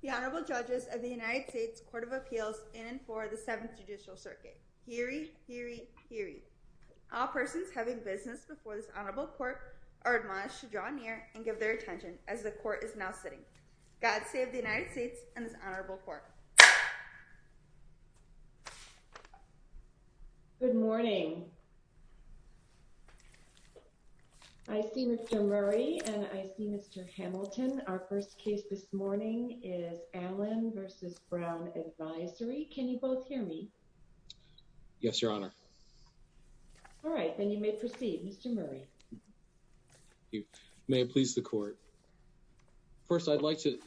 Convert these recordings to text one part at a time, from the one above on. The Honorable Judges of the United States Court of Appeals in and for the Seventh Judicial Circuit. Hear ye! Hear ye! Hear ye! All persons having business before this Honorable Court are admonished to draw near and give their attention as the Court is now sitting. God save the United States and this Honorable Court. Good morning. I see Mr. Murray and I see Mr. Hamilton. Our first case this morning is Allen v. Brown Advisory. Can you both hear me? Yes, Your Honor. All right. Then you may proceed. Mr. Murray. Thank you. May it please the Court. First I'd like to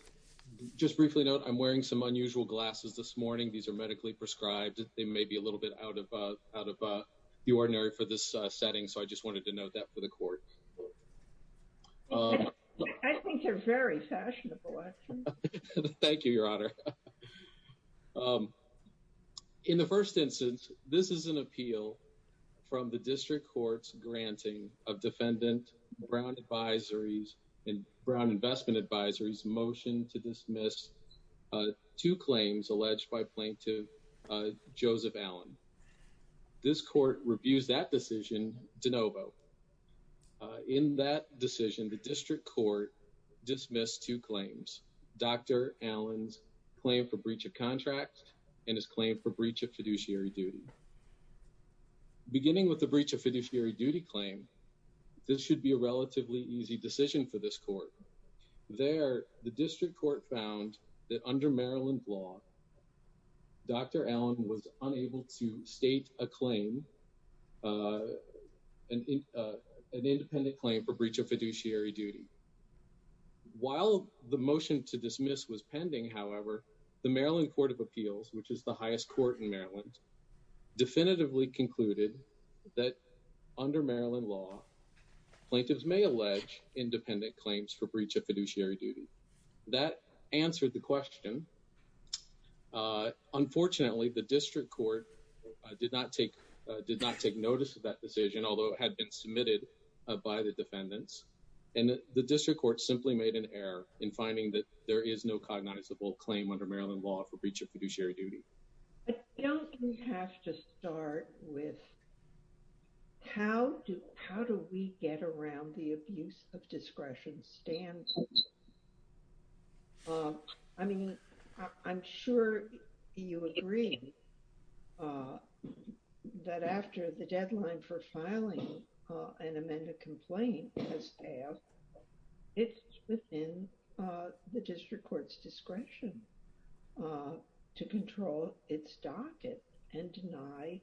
just briefly note I'm wearing some unusual glasses this morning. These are medically prescribed. They may be a little bit out of the ordinary for this setting, so I just wanted to note that for the Court. I think they're very fashionable. Thank you, Your Honor. In the first instance, this is an appeal from the District Court's granting of defendant Brown Advisories and Brown Investment Advisories' motion to dismiss two claims alleged by plaintiff Joseph Allen. This Court reviews that decision de novo. In that decision, the District Court dismissed two claims, Dr. Allen's claim for breach of contract and his claim for breach of fiduciary duty. Beginning with the breach of fiduciary duty claim, this should be a relatively easy decision for this Court. There, the District Court found that under Maryland law, Dr. Allen was unable to state a claim, an independent claim for breach of fiduciary duty. While the motion to dismiss was pending, however, the Maryland Court of Appeals, which is the highest court in Maryland, definitively concluded that under Maryland law, plaintiffs may allege independent claims for breach of fiduciary duty. That answered the question. Unfortunately, the District Court did not take notice of that decision, although it had been submitted by the defendants. The District Court simply made an error in finding that there is no cognizable claim under Maryland law for breach of fiduciary duty. I think we have to start with how do we get around the abuse of discretion standard? I mean, I'm sure you agree that after the deadline for filing an amended complaint, the staff, it's within the District Court's discretion to control its docket and deny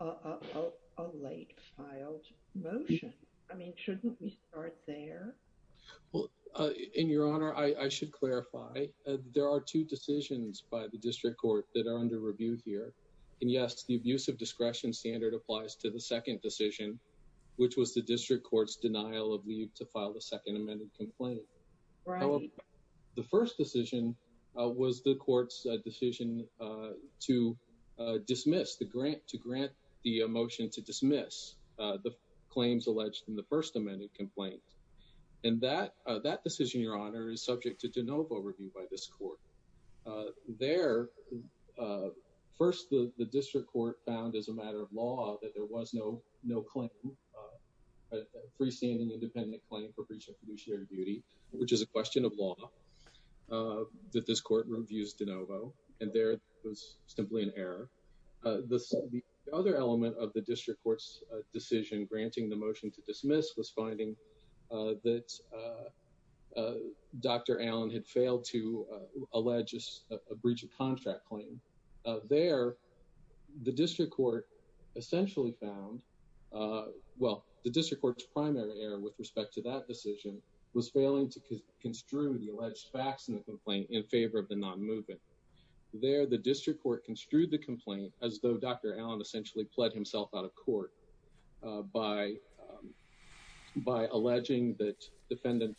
a late filed motion. I mean, shouldn't we start there? Well, in your honor, I should clarify. There are two decisions by the District Court that are under review here. And yes, the abuse of discretion standard applies to the second decision, which was the District Court's denial of leave to file the second amended complaint. The first decision was the court's decision to dismiss the grant, to grant the motion to dismiss the claims alleged in the first amended complaint. And that decision, your honor, is subject to de novo review by this court. There, first the District Court found as a matter of law that there was no claim, a freestanding independent claim for breach of fiduciary duty, which is a question of law, that this court reviews de novo. And there, it was simply an error. The other element of the District Court's decision granting the motion to dismiss was Dr. Allen had failed to allege a breach of contract claim. There, the District Court essentially found, well, the District Court's primary error with respect to that decision was failing to construe the alleged facts in the complaint in favor of the non-movement. There, the District Court construed the complaint as though Dr. Allen essentially pled himself out of court by alleging that the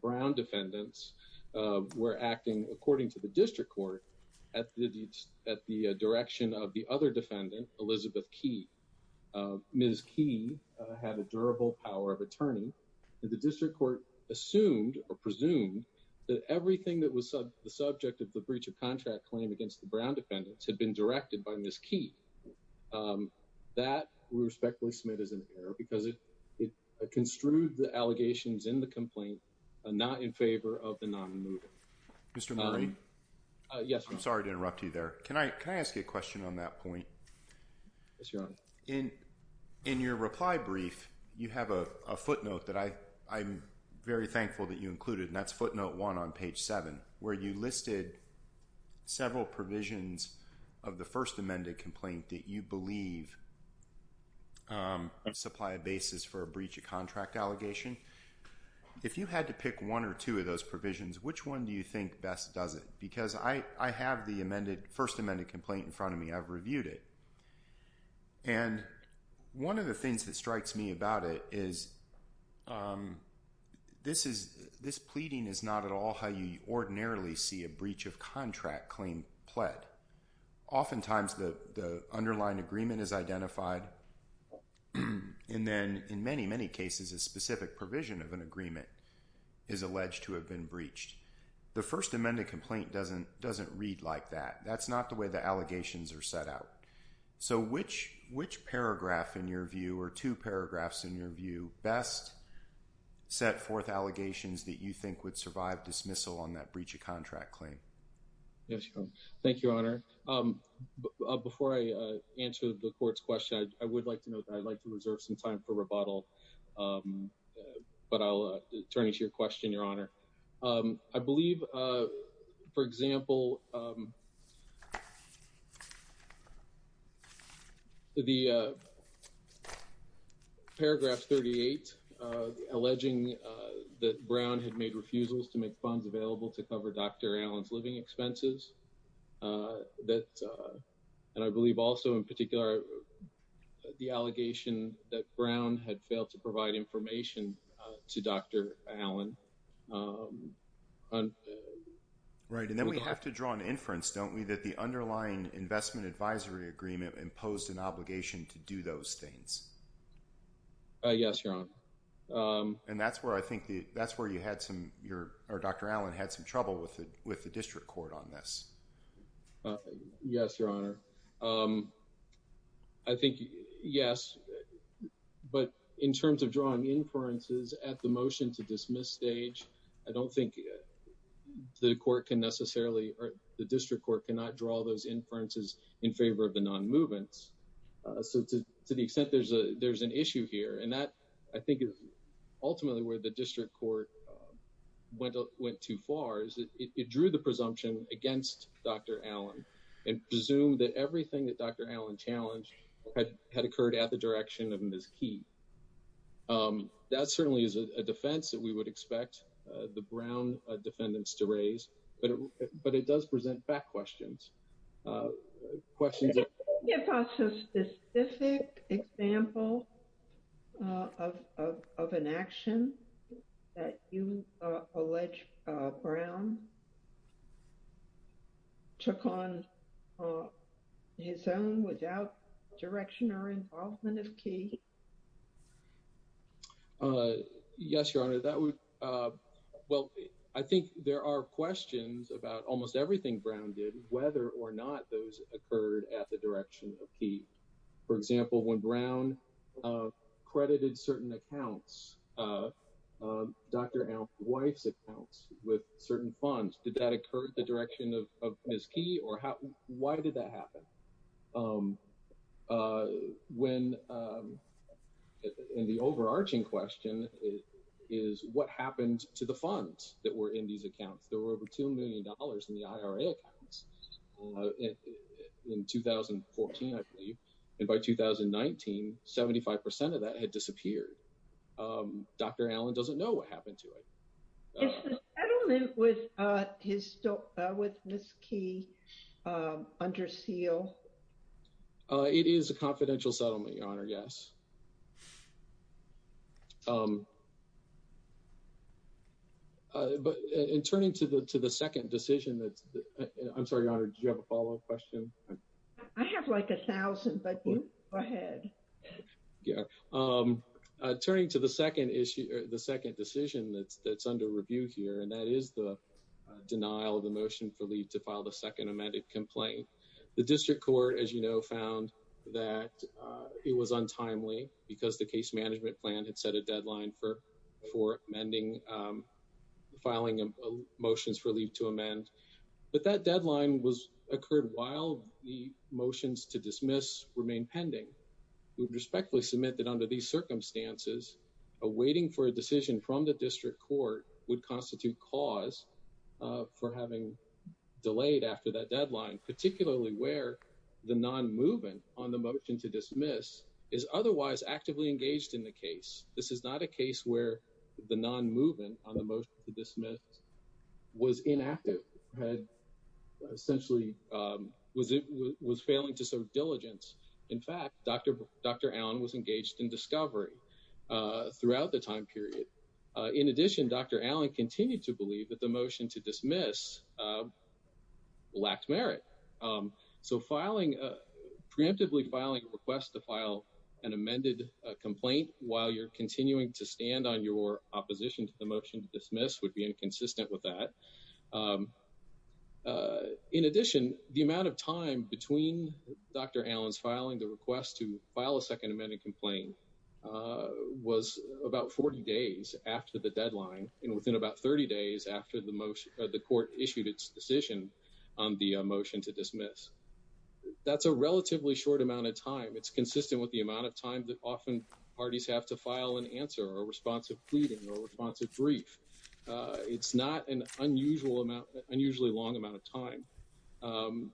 Brown defendants were acting, according to the District Court, at the direction of the other defendant, Elizabeth Key. Ms. Key had a durable power of attorney. The District Court assumed, or presumed, that everything that was the subject of the breach of contract claim against the Brown defendants had been directed by Ms. Key. That we respectfully submit as an error because it construed the allegations in the complaint not in favor of the non-movement. Mr. Murray? Yes, Your Honor. I'm sorry to interrupt you there. Can I ask you a question on that point? Yes, Your Honor. In your reply brief, you have a footnote that I'm very thankful that you included, and that's several provisions of the First Amended Complaint that you believe supply a basis for a breach of contract allegation. If you had to pick one or two of those provisions, which one do you think best does it? Because I have the First Amended Complaint in front of me, I've reviewed it, and one of the things that strikes me about it is this pleading is not at all how you ordinarily see a breach of contract claim pled. Oftentimes the underlying agreement is identified, and then in many, many cases, a specific provision of an agreement is alleged to have been breached. The First Amended Complaint doesn't read like that. That's not the way the allegations are set out. So which paragraph in your view, or two paragraphs in your view, best set forth allegations that you think would survive dismissal on that breach of contract claim? Yes, Your Honor. Thank you, Your Honor. Before I answer the court's question, I would like to note that I'd like to reserve some time for rebuttal, but I'll turn it to your question, Your Honor. I believe, for example, the paragraph 38, alleging that Brown had made refusals to make funds available to cover Dr. Allen's living expenses, and I believe also in particular the allegation that Brown had failed to provide information to Dr. Allen. Right, and then we have to draw an inference, don't we, that the underlying investment advisory agreement imposed an obligation to do those things? Yes, Your Honor. And that's where I think, that's where you had some, or Dr. Allen had some trouble with the district court on this. Yes, Your Honor. I think, yes, but in terms of drawing inferences at the motion to dismiss stage, I don't think the court can necessarily, or the district court cannot draw those inferences in favor of the non-movements. So to the extent there's an issue here, and that I think is ultimately where the district court went too far, is it drew the presumption against Dr. Allen and presumed that everything that Dr. Allen challenged had occurred at the direction of Ms. Key. That certainly is a defense that we would expect the Brown defendants to raise, but it does present back questions. Could you give us a specific example of an action that you allege Brown took on his own without direction or involvement of Key? Yes, Your Honor. Well, I think there are questions about almost everything Brown did, whether or not those occurred at the direction of Key. For example, when Brown credited certain accounts, Dr. Allen's wife's accounts with certain funds, did that occur at the direction of Ms. Key, or why did that happen? And the overarching question is, what happened to the funds that were in these accounts? There were over $2 million in the IRA accounts in 2014, I believe, and by 2019, 75% of that had disappeared. Dr. Allen doesn't know what happened to it. Is the settlement with Ms. Key under seal? It is a confidential settlement, Your Honor, yes. But in turning to the second decision, I'm sorry, Your Honor, did you have a follow-up question? I have like a thousand, but you go ahead. Turning to the second decision that's under review here, and that is the denial of the motion for leave to file the second amended complaint. The district court, as you know, found that it was untimely because the case management plan had set a deadline for filing motions for leave to amend, but that deadline occurred while the motions to dismiss remained pending. We respectfully submit that under these circumstances, awaiting for a decision from the district court would constitute cause for having delayed after that deadline, particularly where the non-movement on the motion to dismiss is otherwise actively engaged in the case. This is not a case where the non-movement on the motion to dismiss was inactive, had not been engaged in the case, and in fact, Dr. Allen was engaged in discovery throughout the time period. In addition, Dr. Allen continued to believe that the motion to dismiss lacked merit. So preemptively filing a request to file an amended complaint while you're continuing to stand on your opposition to the motion to dismiss would be inconsistent with that. In addition, the amount of time between Dr. Allen's filing the request to file a second amended complaint was about 40 days after the deadline and within about 30 days after the court issued its decision on the motion to dismiss. That's a relatively short amount of time. It's consistent with the amount of time that often parties have to file an answer or a responsive pleading or a responsive brief. It's not an unusually long amount of time.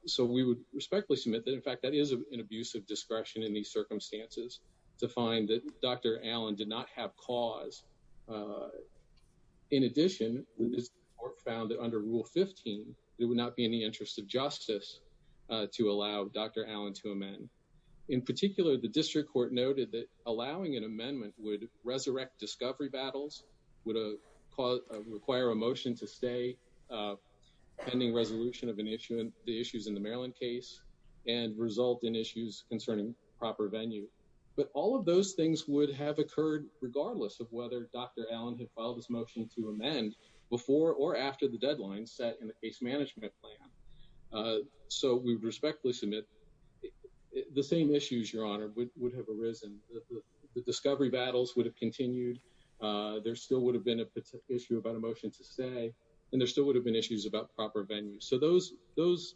So we would respectfully submit that, in fact, that is an abuse of discretion in these circumstances to find that Dr. Allen did not have cause. In addition, the court found that under Rule 15, there would not be any interest of justice to allow Dr. Allen to amend. In particular, the district court noted that allowing an amendment would resurrect discovery battles, would require a motion to stay, pending resolution of the issues in the Maryland case, and result in issues concerning proper venue. But all of those things would have occurred regardless of whether Dr. Allen had filed his motion to amend before or after the deadline set in the case management plan. So we would respectfully submit the same issues, Your Honor, would have arisen. The discovery battles would have continued. There still would have been an issue about a motion to stay, and there still would have been issues about proper venue. So those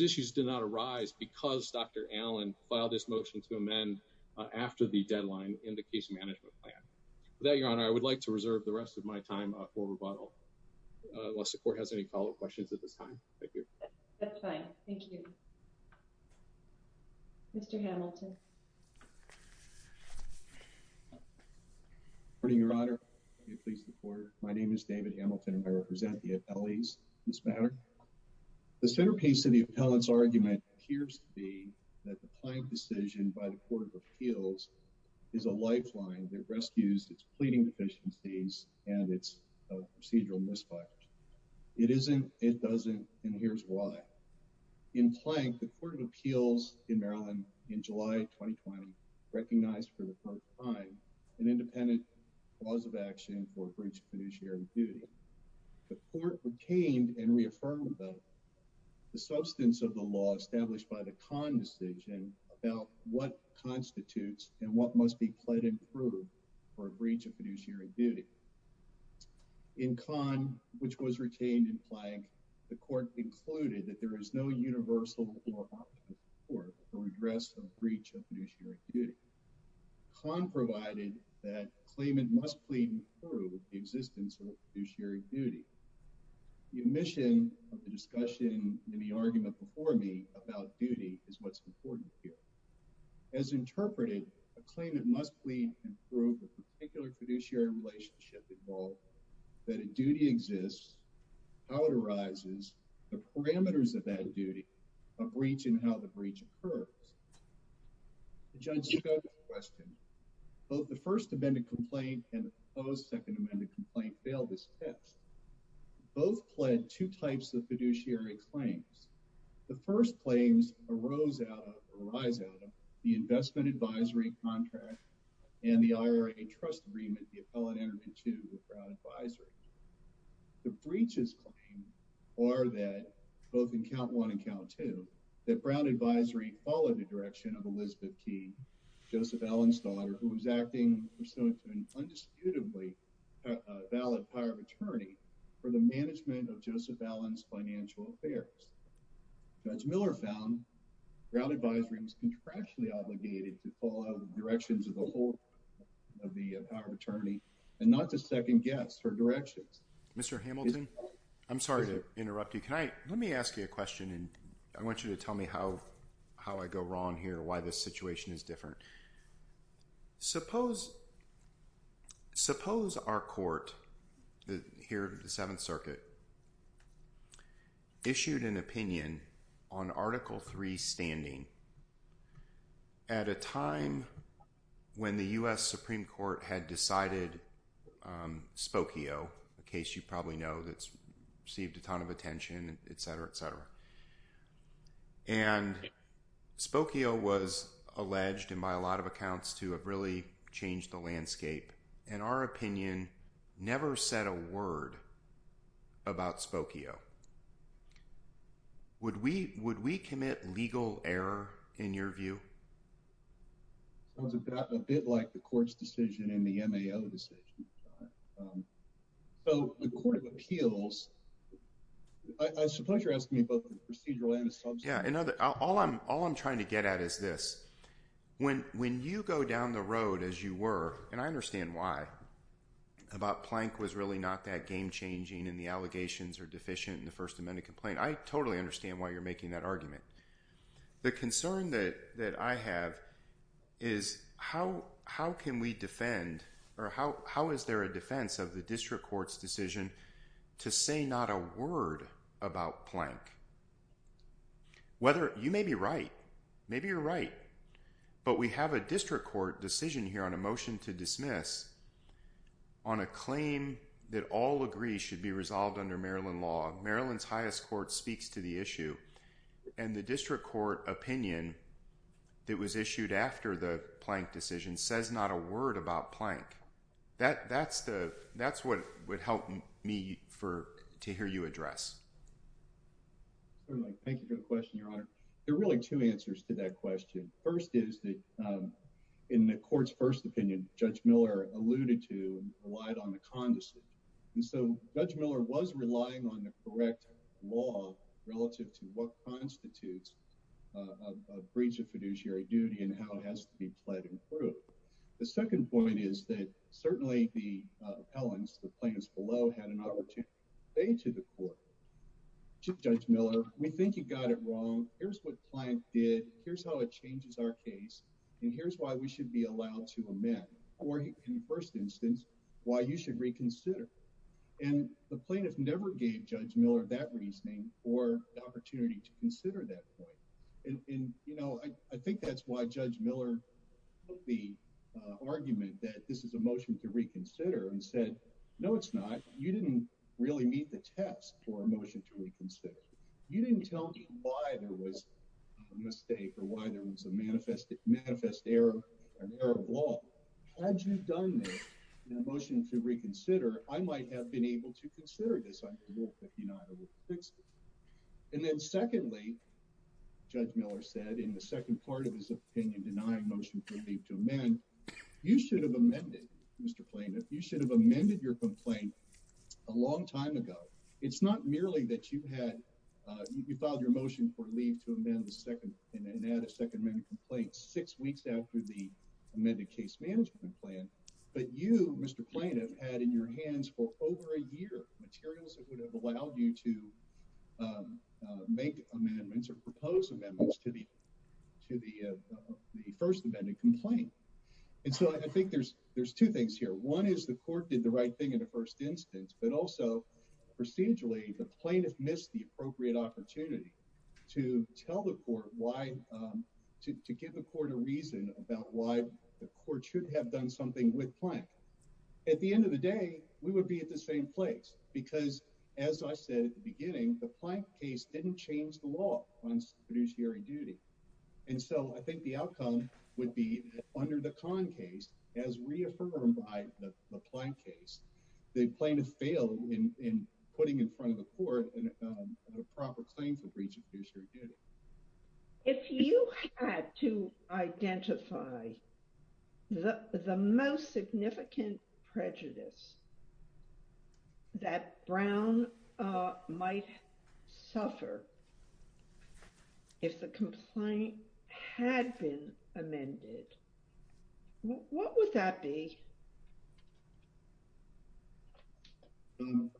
issues did not arise because Dr. Allen filed his motion to amend after the deadline in the case management plan. With that, Your Honor, I would like to reserve the rest of my time for rebuttal, unless the Thank you. That's fine. Thank you. Mr. Hamilton. Good morning, Your Honor. My name is David Hamilton, and I represent the appellees in this matter. The centerpiece of the appellant's argument appears to be that the client decision by the Court of Appeals is a lifeline that rescues its pleading deficiencies and its procedural misfires. It isn't, it doesn't, and here's why. In Plank, the Court of Appeals in Maryland in July 2020 recognized for the first time an independent cause of action for a breach of fiduciary duty. The court retained and reaffirmed the substance of the law established by the Kahn decision about what constitutes and what must be pleaded through for a breach of fiduciary duty. In Kahn, which was retained in Plank, the court concluded that there is no universal law for a redress of breach of fiduciary duty. Kahn provided that a claimant must plead through the existence of fiduciary duty. The omission of the discussion in the argument before me about duty is what's important here. As interpreted, a claimant must plead through the particular fiduciary relationship involved that a duty exists, how it arises, the parameters of that duty, a breach, and how the breach occurs. The judge's question, both the first amended complaint and the second amended complaint failed this test. Both pled two types of fiduciary claims. The first claims arose out of the investment advisory contract and the IRA trust agreement the appellate entered into with Brown advisory. The breach's claim are that both in count one and count two that Brown advisory followed the direction of Elizabeth T, Joseph Allen's daughter, who was acting pursuant to an indisputably valid power of attorney for the management of Joseph Allen's financial affairs. Judge Miller found Brown advisory was contractually obligated to follow the directions of the whole of the power of attorney and not to second guess her directions. Mr. Hamilton, I'm sorry to interrupt you. Can I, let me ask you a question and I want you to tell me how, how I go wrong here, why this situation is different. Suppose, suppose our court here at the seventh circuit issued an opinion on article three standing at a time when the U.S. Supreme Court had decided Spokio, a case you probably know that's received a ton of attention, et cetera, et cetera. And Spokio was alleged and by a lot of accounts to have really changed the landscape. And our opinion never said a word about Spokio. Would we, would we commit legal error in your view? Sounds a bit like the court's decision in the MAO decision. So the court of appeals, I suppose you're asking me about the procedural and the substantive. Yeah, all I'm, all I'm trying to get at is this. When, when you go down the road as you were, and I understand why, about Plank was really not that game changing and the allegations are deficient in the first amendment complaint. I totally understand why you're making that argument. The concern that, that I have is how, how can we defend or how, how is there a defense of the district court's decision to say not a word about Plank? Whether, you may be right, maybe you're right, but we have a district court decision here on a motion to dismiss on a claim that all agree should be resolved under Maryland law. Maryland's highest court speaks to the issue and the district court opinion that was issued after the Plank decision says not a word about Plank. That, that's the, that's what would help me for, to hear you address. Certainly, thank you for the question, Your Honor. There are really two answers to that question. First is that in the court's first opinion, Judge Miller alluded to relied on the condescension. And so Judge Miller was relying on the correct law relative to what constitutes a breach of fiduciary duty and how it has to be pled and proved. The second point is that certainly the appellants, the plaintiffs below had an opportunity to say to the court, Judge Miller, we think you got it wrong. Here's what Plank did. Here's how it changes our case. And here's why we should be allowed to amend. Or in the first instance, why you should reconsider. And the plaintiff never gave Judge Miller that reasoning or the opportunity to consider that point. And, you know, I think that's why Judge Miller took the argument that this is a motion to reconsider and said, no, it's not. You didn't really meet the test for a motion to reconsider. You didn't tell me why there was a mistake or why there was a manifest error, an error of law. Had you done this in a motion to reconsider, I might have been able to consider this under Rule 59 or 60. And then secondly, Judge Miller said in the second part of his opinion denying motion to amend, you should have amended, Mr. Plaintiff, you should have amended your complaint a long time ago. It's not merely that you had, you filed your motion for leave to amend the second and add a second amendment complaint six weeks after the amended case management plan. But you, Mr. Plaintiff, had in your hands for over a year materials that would have allowed you to make amendments or propose amendments to the first amendment complaint. And so I think there's two things here. One is the court did the right thing in the first instance, but also procedurally, the plaintiff missed the appropriate opportunity to tell the court why, to give the court a reason about why the court should have done something with Plank. At the end of the day, we would be at the same place because, as I said at the beginning, the Plank case didn't change the law on fiduciary duty. And so I think the outcome would be under the Conn case, as reaffirmed by the Plank case, the plaintiff failed in putting in front of the court a proper claim for breach of fiduciary duty. If you had to identify the most significant prejudice that Brown might suffer if the complaint had been amended, what would that be? Can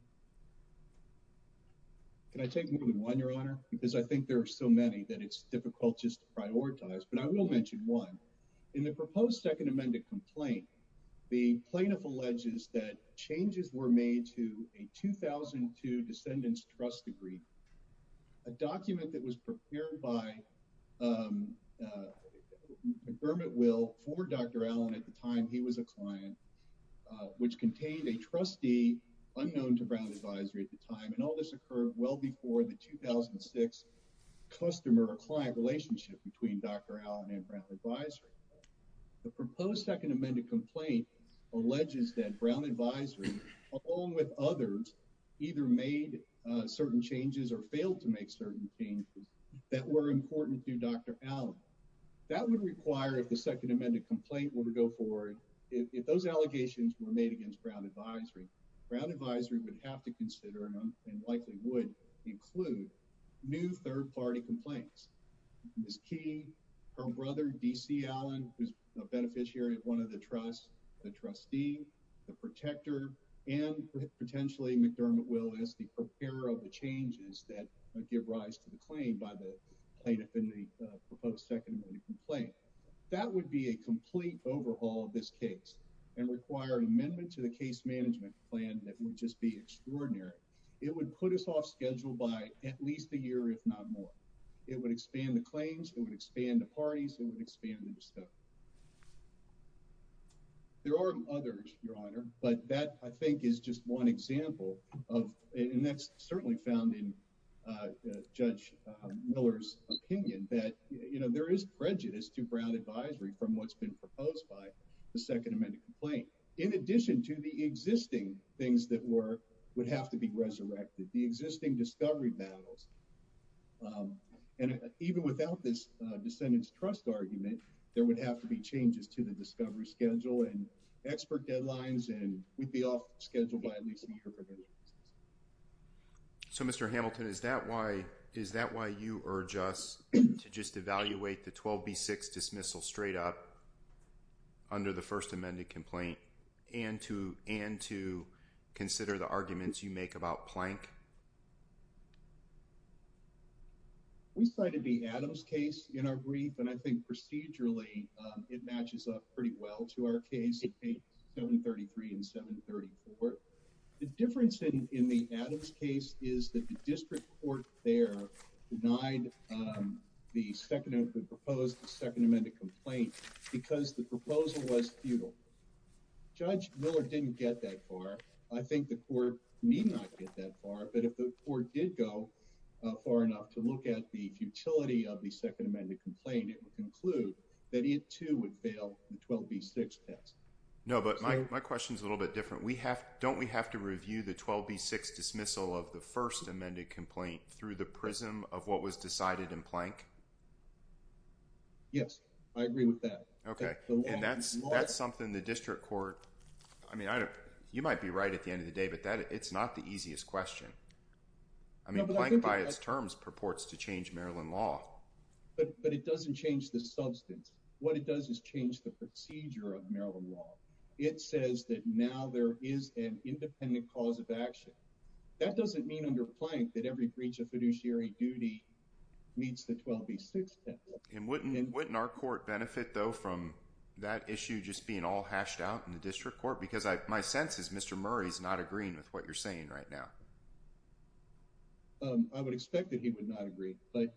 I take more than one, Your Honor? Because I think there are so many that it's difficult just to prioritize, but I will mention one. In the proposed second amended complaint, the plaintiff alleges that changes were made to a 2002 descendants trust degree, a document that was prepared by McBurman Will, former Dr. Allen at the time, he was a client, which contained a trustee unknown to Brown Advisory at the time, and all this occurred well before the 2006 customer-client relationship between Dr. Allen and Brown Advisory. The proposed second amended complaint alleges that Brown Advisory, along with others, either made certain changes or failed to make certain changes that were important to Dr. Allen. That would require if the second amended complaint were to go forward, if those allegations were made against Brown Advisory, Brown Advisory would have to consider and likely would include new third party complaints. Ms. Key, her brother D.C. Allen, who's a beneficiary of one of the trusts, the trustee, the protector, and potentially McDermott Will as the preparer of the changes that give rise to the claim by the plaintiff in the proposed second amended complaint. That would be a complete overhaul of this case and require an amendment to the case management plan that would just be extraordinary. It would put us off schedule by at least a year, if not more. It would expand the claims, it would expand the parties, it would expand the discovery. There are others, Your Honor, but that, I think, is just one example of, and that's certainly found in Judge Miller's opinion, that, you know, there is prejudice to Brown Advisory from what's been proposed by the second amended complaint. In addition to the existing things that would have to be resurrected, the existing discovery battles, and even without this descendants trust argument, there would have to be changes to the discovery schedule and expert deadlines, and we'd be off schedule by at least a year. So, Mr. Hamilton, is that why you urge us to just evaluate the 12B6 dismissal straight up under the first amended complaint and to consider the arguments you make about Plank? We cited the Adams case in our brief, and I think procedurally it matches up pretty well to our case, 733 and 734. The difference in the Adams case is that the district court there denied the second amendment, proposed the second amended complaint because the proposal was futile. Judge Miller didn't get that far. I think the court need not get that far, but if the court did go far enough to look at the futility of the second amended complaint, it would conclude that it, too, would fail the 12B6 test. No, but my question is a little bit different. Don't we have to review the 12B6 dismissal of the first amended complaint through the prism of what was decided in Plank? Yes, I agree with that. Okay, and that's something the district court, I mean, you might be right at the end of the day, but it's not the easiest question. I mean, Plank by its terms purports to change Maryland law. But it doesn't change the substance. What it does is change the procedure of Maryland law. It says that now there is an independent cause of action. That doesn't mean under Plank that every breach of fiduciary duty meets the 12B6 test. And wouldn't our court benefit, though, from that issue just being all hashed out in the district court? Because my sense is Mr. Murray's not agreeing with what you're saying right now. I would expect that he would not agree. But,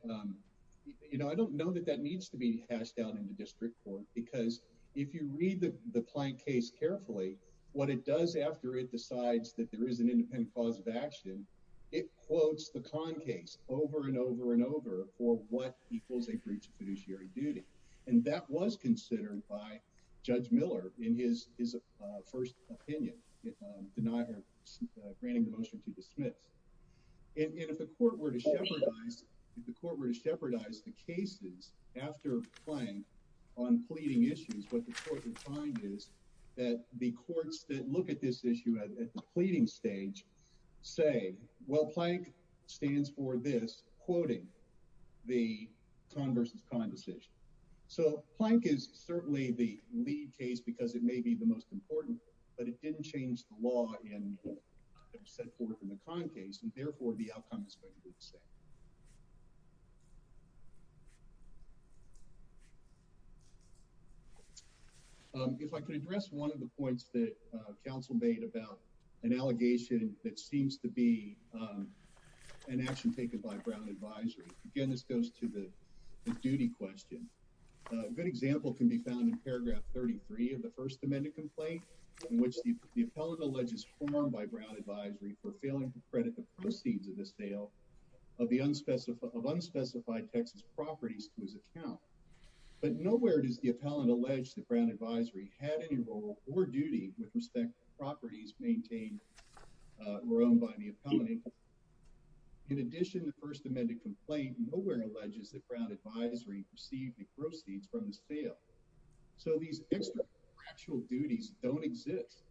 you know, I don't know that that needs to be hashed out in the district court. Because if you read the Plank case carefully, what it does after it decides that there is an independent cause of action, it quotes the Conn case over and over and over for what equals a breach of fiduciary duty. And that was considered by Judge Miller in his first opinion, granting the motion to dismiss. And if the court were to shepherdize the cases after Plank on pleading issues, what the court would find is that the courts that look at this issue at the pleading stage say, well, Plank stands for this, quoting the Conn versus Conn decision. So Plank is certainly the lead case because it may be the most important, but it didn't change the law in what was set forth in the Conn case. And therefore, the outcome is going to be the same. If I could address one of the points that Council made about an allegation that seems to be an action taken by Brown Advisory. Again, this goes to the duty question. A good example can be found in paragraph 33 of the First Amendment complaint in which the appellant alleges that Brown Advisory was informed by Brown Advisory for failing to credit the proceeds of the sale of unspecified Texas properties to his account. But nowhere does the appellant allege that Brown Advisory had any role or duty with respect to properties maintained or owned by the appellant. In addition, the First Amendment complaint nowhere alleges that Brown Advisory received the proceeds from the sale. So these extra-factual duties don't exist.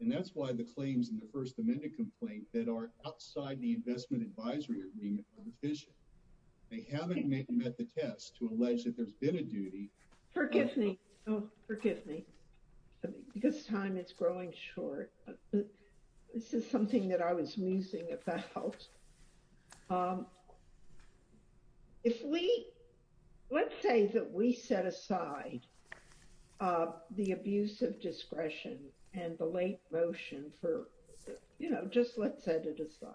And that's why the claims in the First Amendment complaint that are outside the investment advisory agreement are deficient. They haven't met the test to allege that there's been a duty. Forgive me. Oh, forgive me. This time it's growing short. This is something that I was musing about. If we, let's say that we set aside the abuse of discretion and the late motion for, you know, just let's set it aside.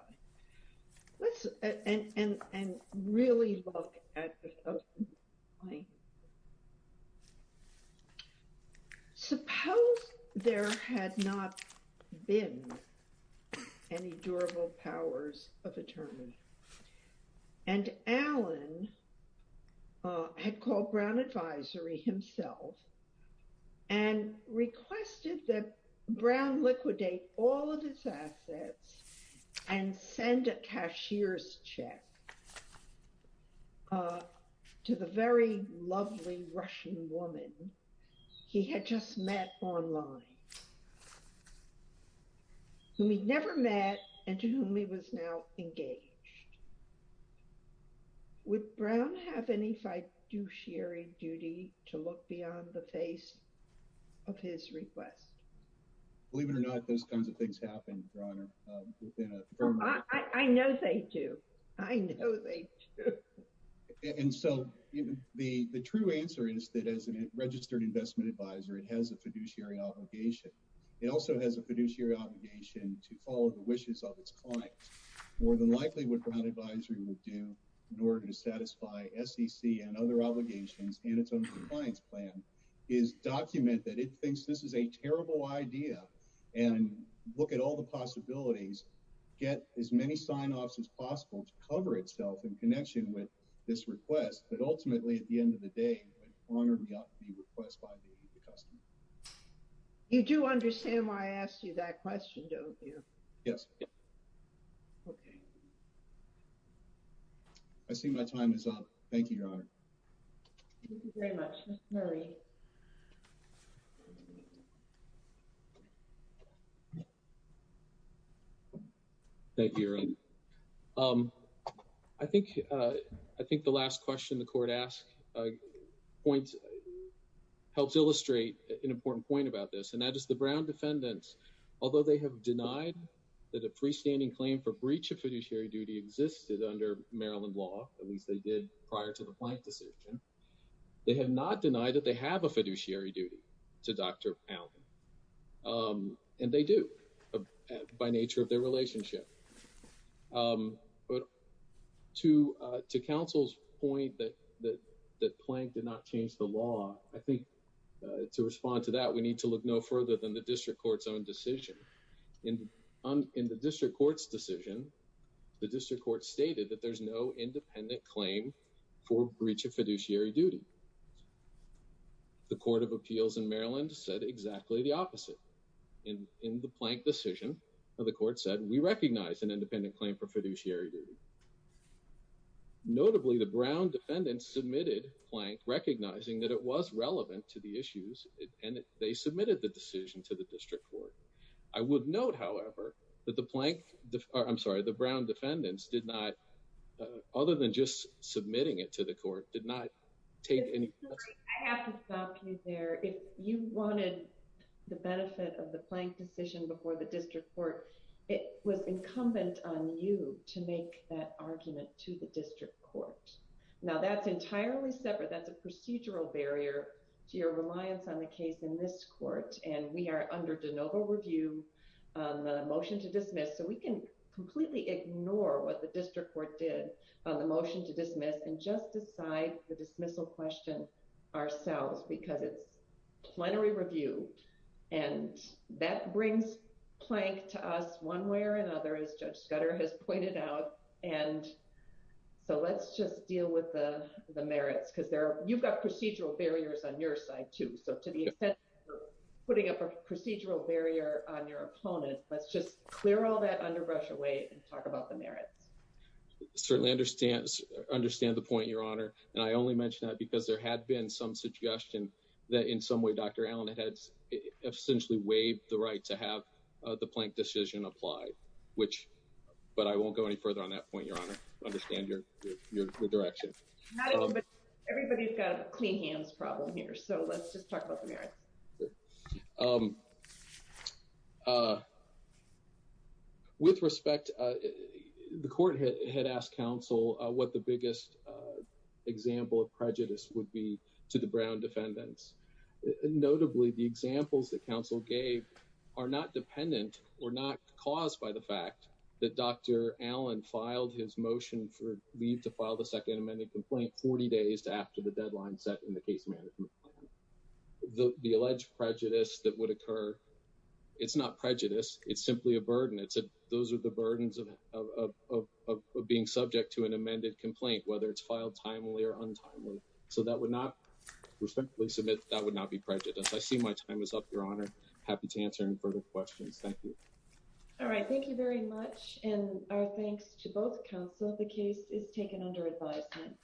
Let's and really look at it. Suppose there had not been any durable powers of attorney. And Alan had called Brown Advisory himself and requested that Brown liquidate all of his assets and send a cashier's check to the very lovely Russian woman he had just met online. Whom he'd never met and to whom he was now engaged. Would Brown have any fiduciary duty to look beyond the face of his request? Believe it or not, those kinds of things happen, Your Honor. I know they do. I know they do. And so the true answer is that as a registered investment advisor, it has a fiduciary obligation. It also has a fiduciary obligation to follow the wishes of its clients. It's more than likely what Brown Advisory would do in order to satisfy SEC and other obligations and its own compliance plan is document that it thinks this is a terrible idea. And look at all the possibilities, get as many sign offs as possible to cover itself in connection with this request. But ultimately, at the end of the day, it would honor the request by the customer. You do understand why I asked you that question, don't you? Yes. OK. I see my time is up. Thank you, Your Honor. Thank you very much, Mr. Murray. Thank you, Your Honor. I think I think the last question the court asked points helps illustrate an important point about this. And that is the Brown defendants, although they have denied that a freestanding claim for breach of fiduciary duty existed under Maryland law, at least they did prior to the Plank decision. They have not denied that they have a fiduciary duty to Dr. Allen. And they do by nature of their relationship. But to to counsel's point that that that Plank did not change the law, I think to respond to that, we need to look no further than the district court's own decision in the district court's decision. The district court stated that there's no independent claim for breach of fiduciary duty. The Court of Appeals in Maryland said exactly the opposite. In the Plank decision, the court said we recognize an independent claim for fiduciary duty. Notably, the Brown defendants submitted Plank, recognizing that it was relevant to the issues and they submitted the decision to the district court. I would note, however, that the Plank I'm sorry, the Brown defendants did not, other than just submitting it to the court, did not take any. I have to stop you there. If you wanted the benefit of the Plank decision before the district court, it was incumbent on you to make that argument to the district court. Now that's entirely separate. That's a procedural barrier to your reliance on the case in this court. And we are under de novo review on the motion to dismiss so we can completely ignore what the district court did on the motion to dismiss and just decide the dismissal question ourselves because it's plenary review. And that brings Plank to us one way or another, as Judge Scudder has pointed out. And so let's just deal with the merits because you've got procedural barriers on your side too. So to the extent that you're putting up a procedural barrier on your opponent, let's just clear all that underbrush away and talk about the merits. Certainly understand the point, Your Honor. And I only mention that because there had been some suggestion that in some way Dr. Allen had essentially waived the right to have the Plank decision applied, which, but I won't go any further on that point, Your Honor. Understand your direction. Everybody's got a clean hands problem here. So let's just talk about the merits. With respect, the court had asked counsel what the biggest example of prejudice would be to the Brown defendants. Notably, the examples that counsel gave are not dependent or not caused by the fact that Dr. Allen filed his motion for leave to file the Second Amendment complaint 40 days after the deadline set in the case management. The alleged prejudice that would occur, it's not prejudice, it's simply a burden. Those are the burdens of being subject to an amended complaint, whether it's filed timely or untimely. So that would not, respectfully submit, that would not be prejudice. I see my time is up, Your Honor. Happy to answer any further questions. Thank you. All right. Thank you very much. And our thanks to both counsel. The case is taken under advisement.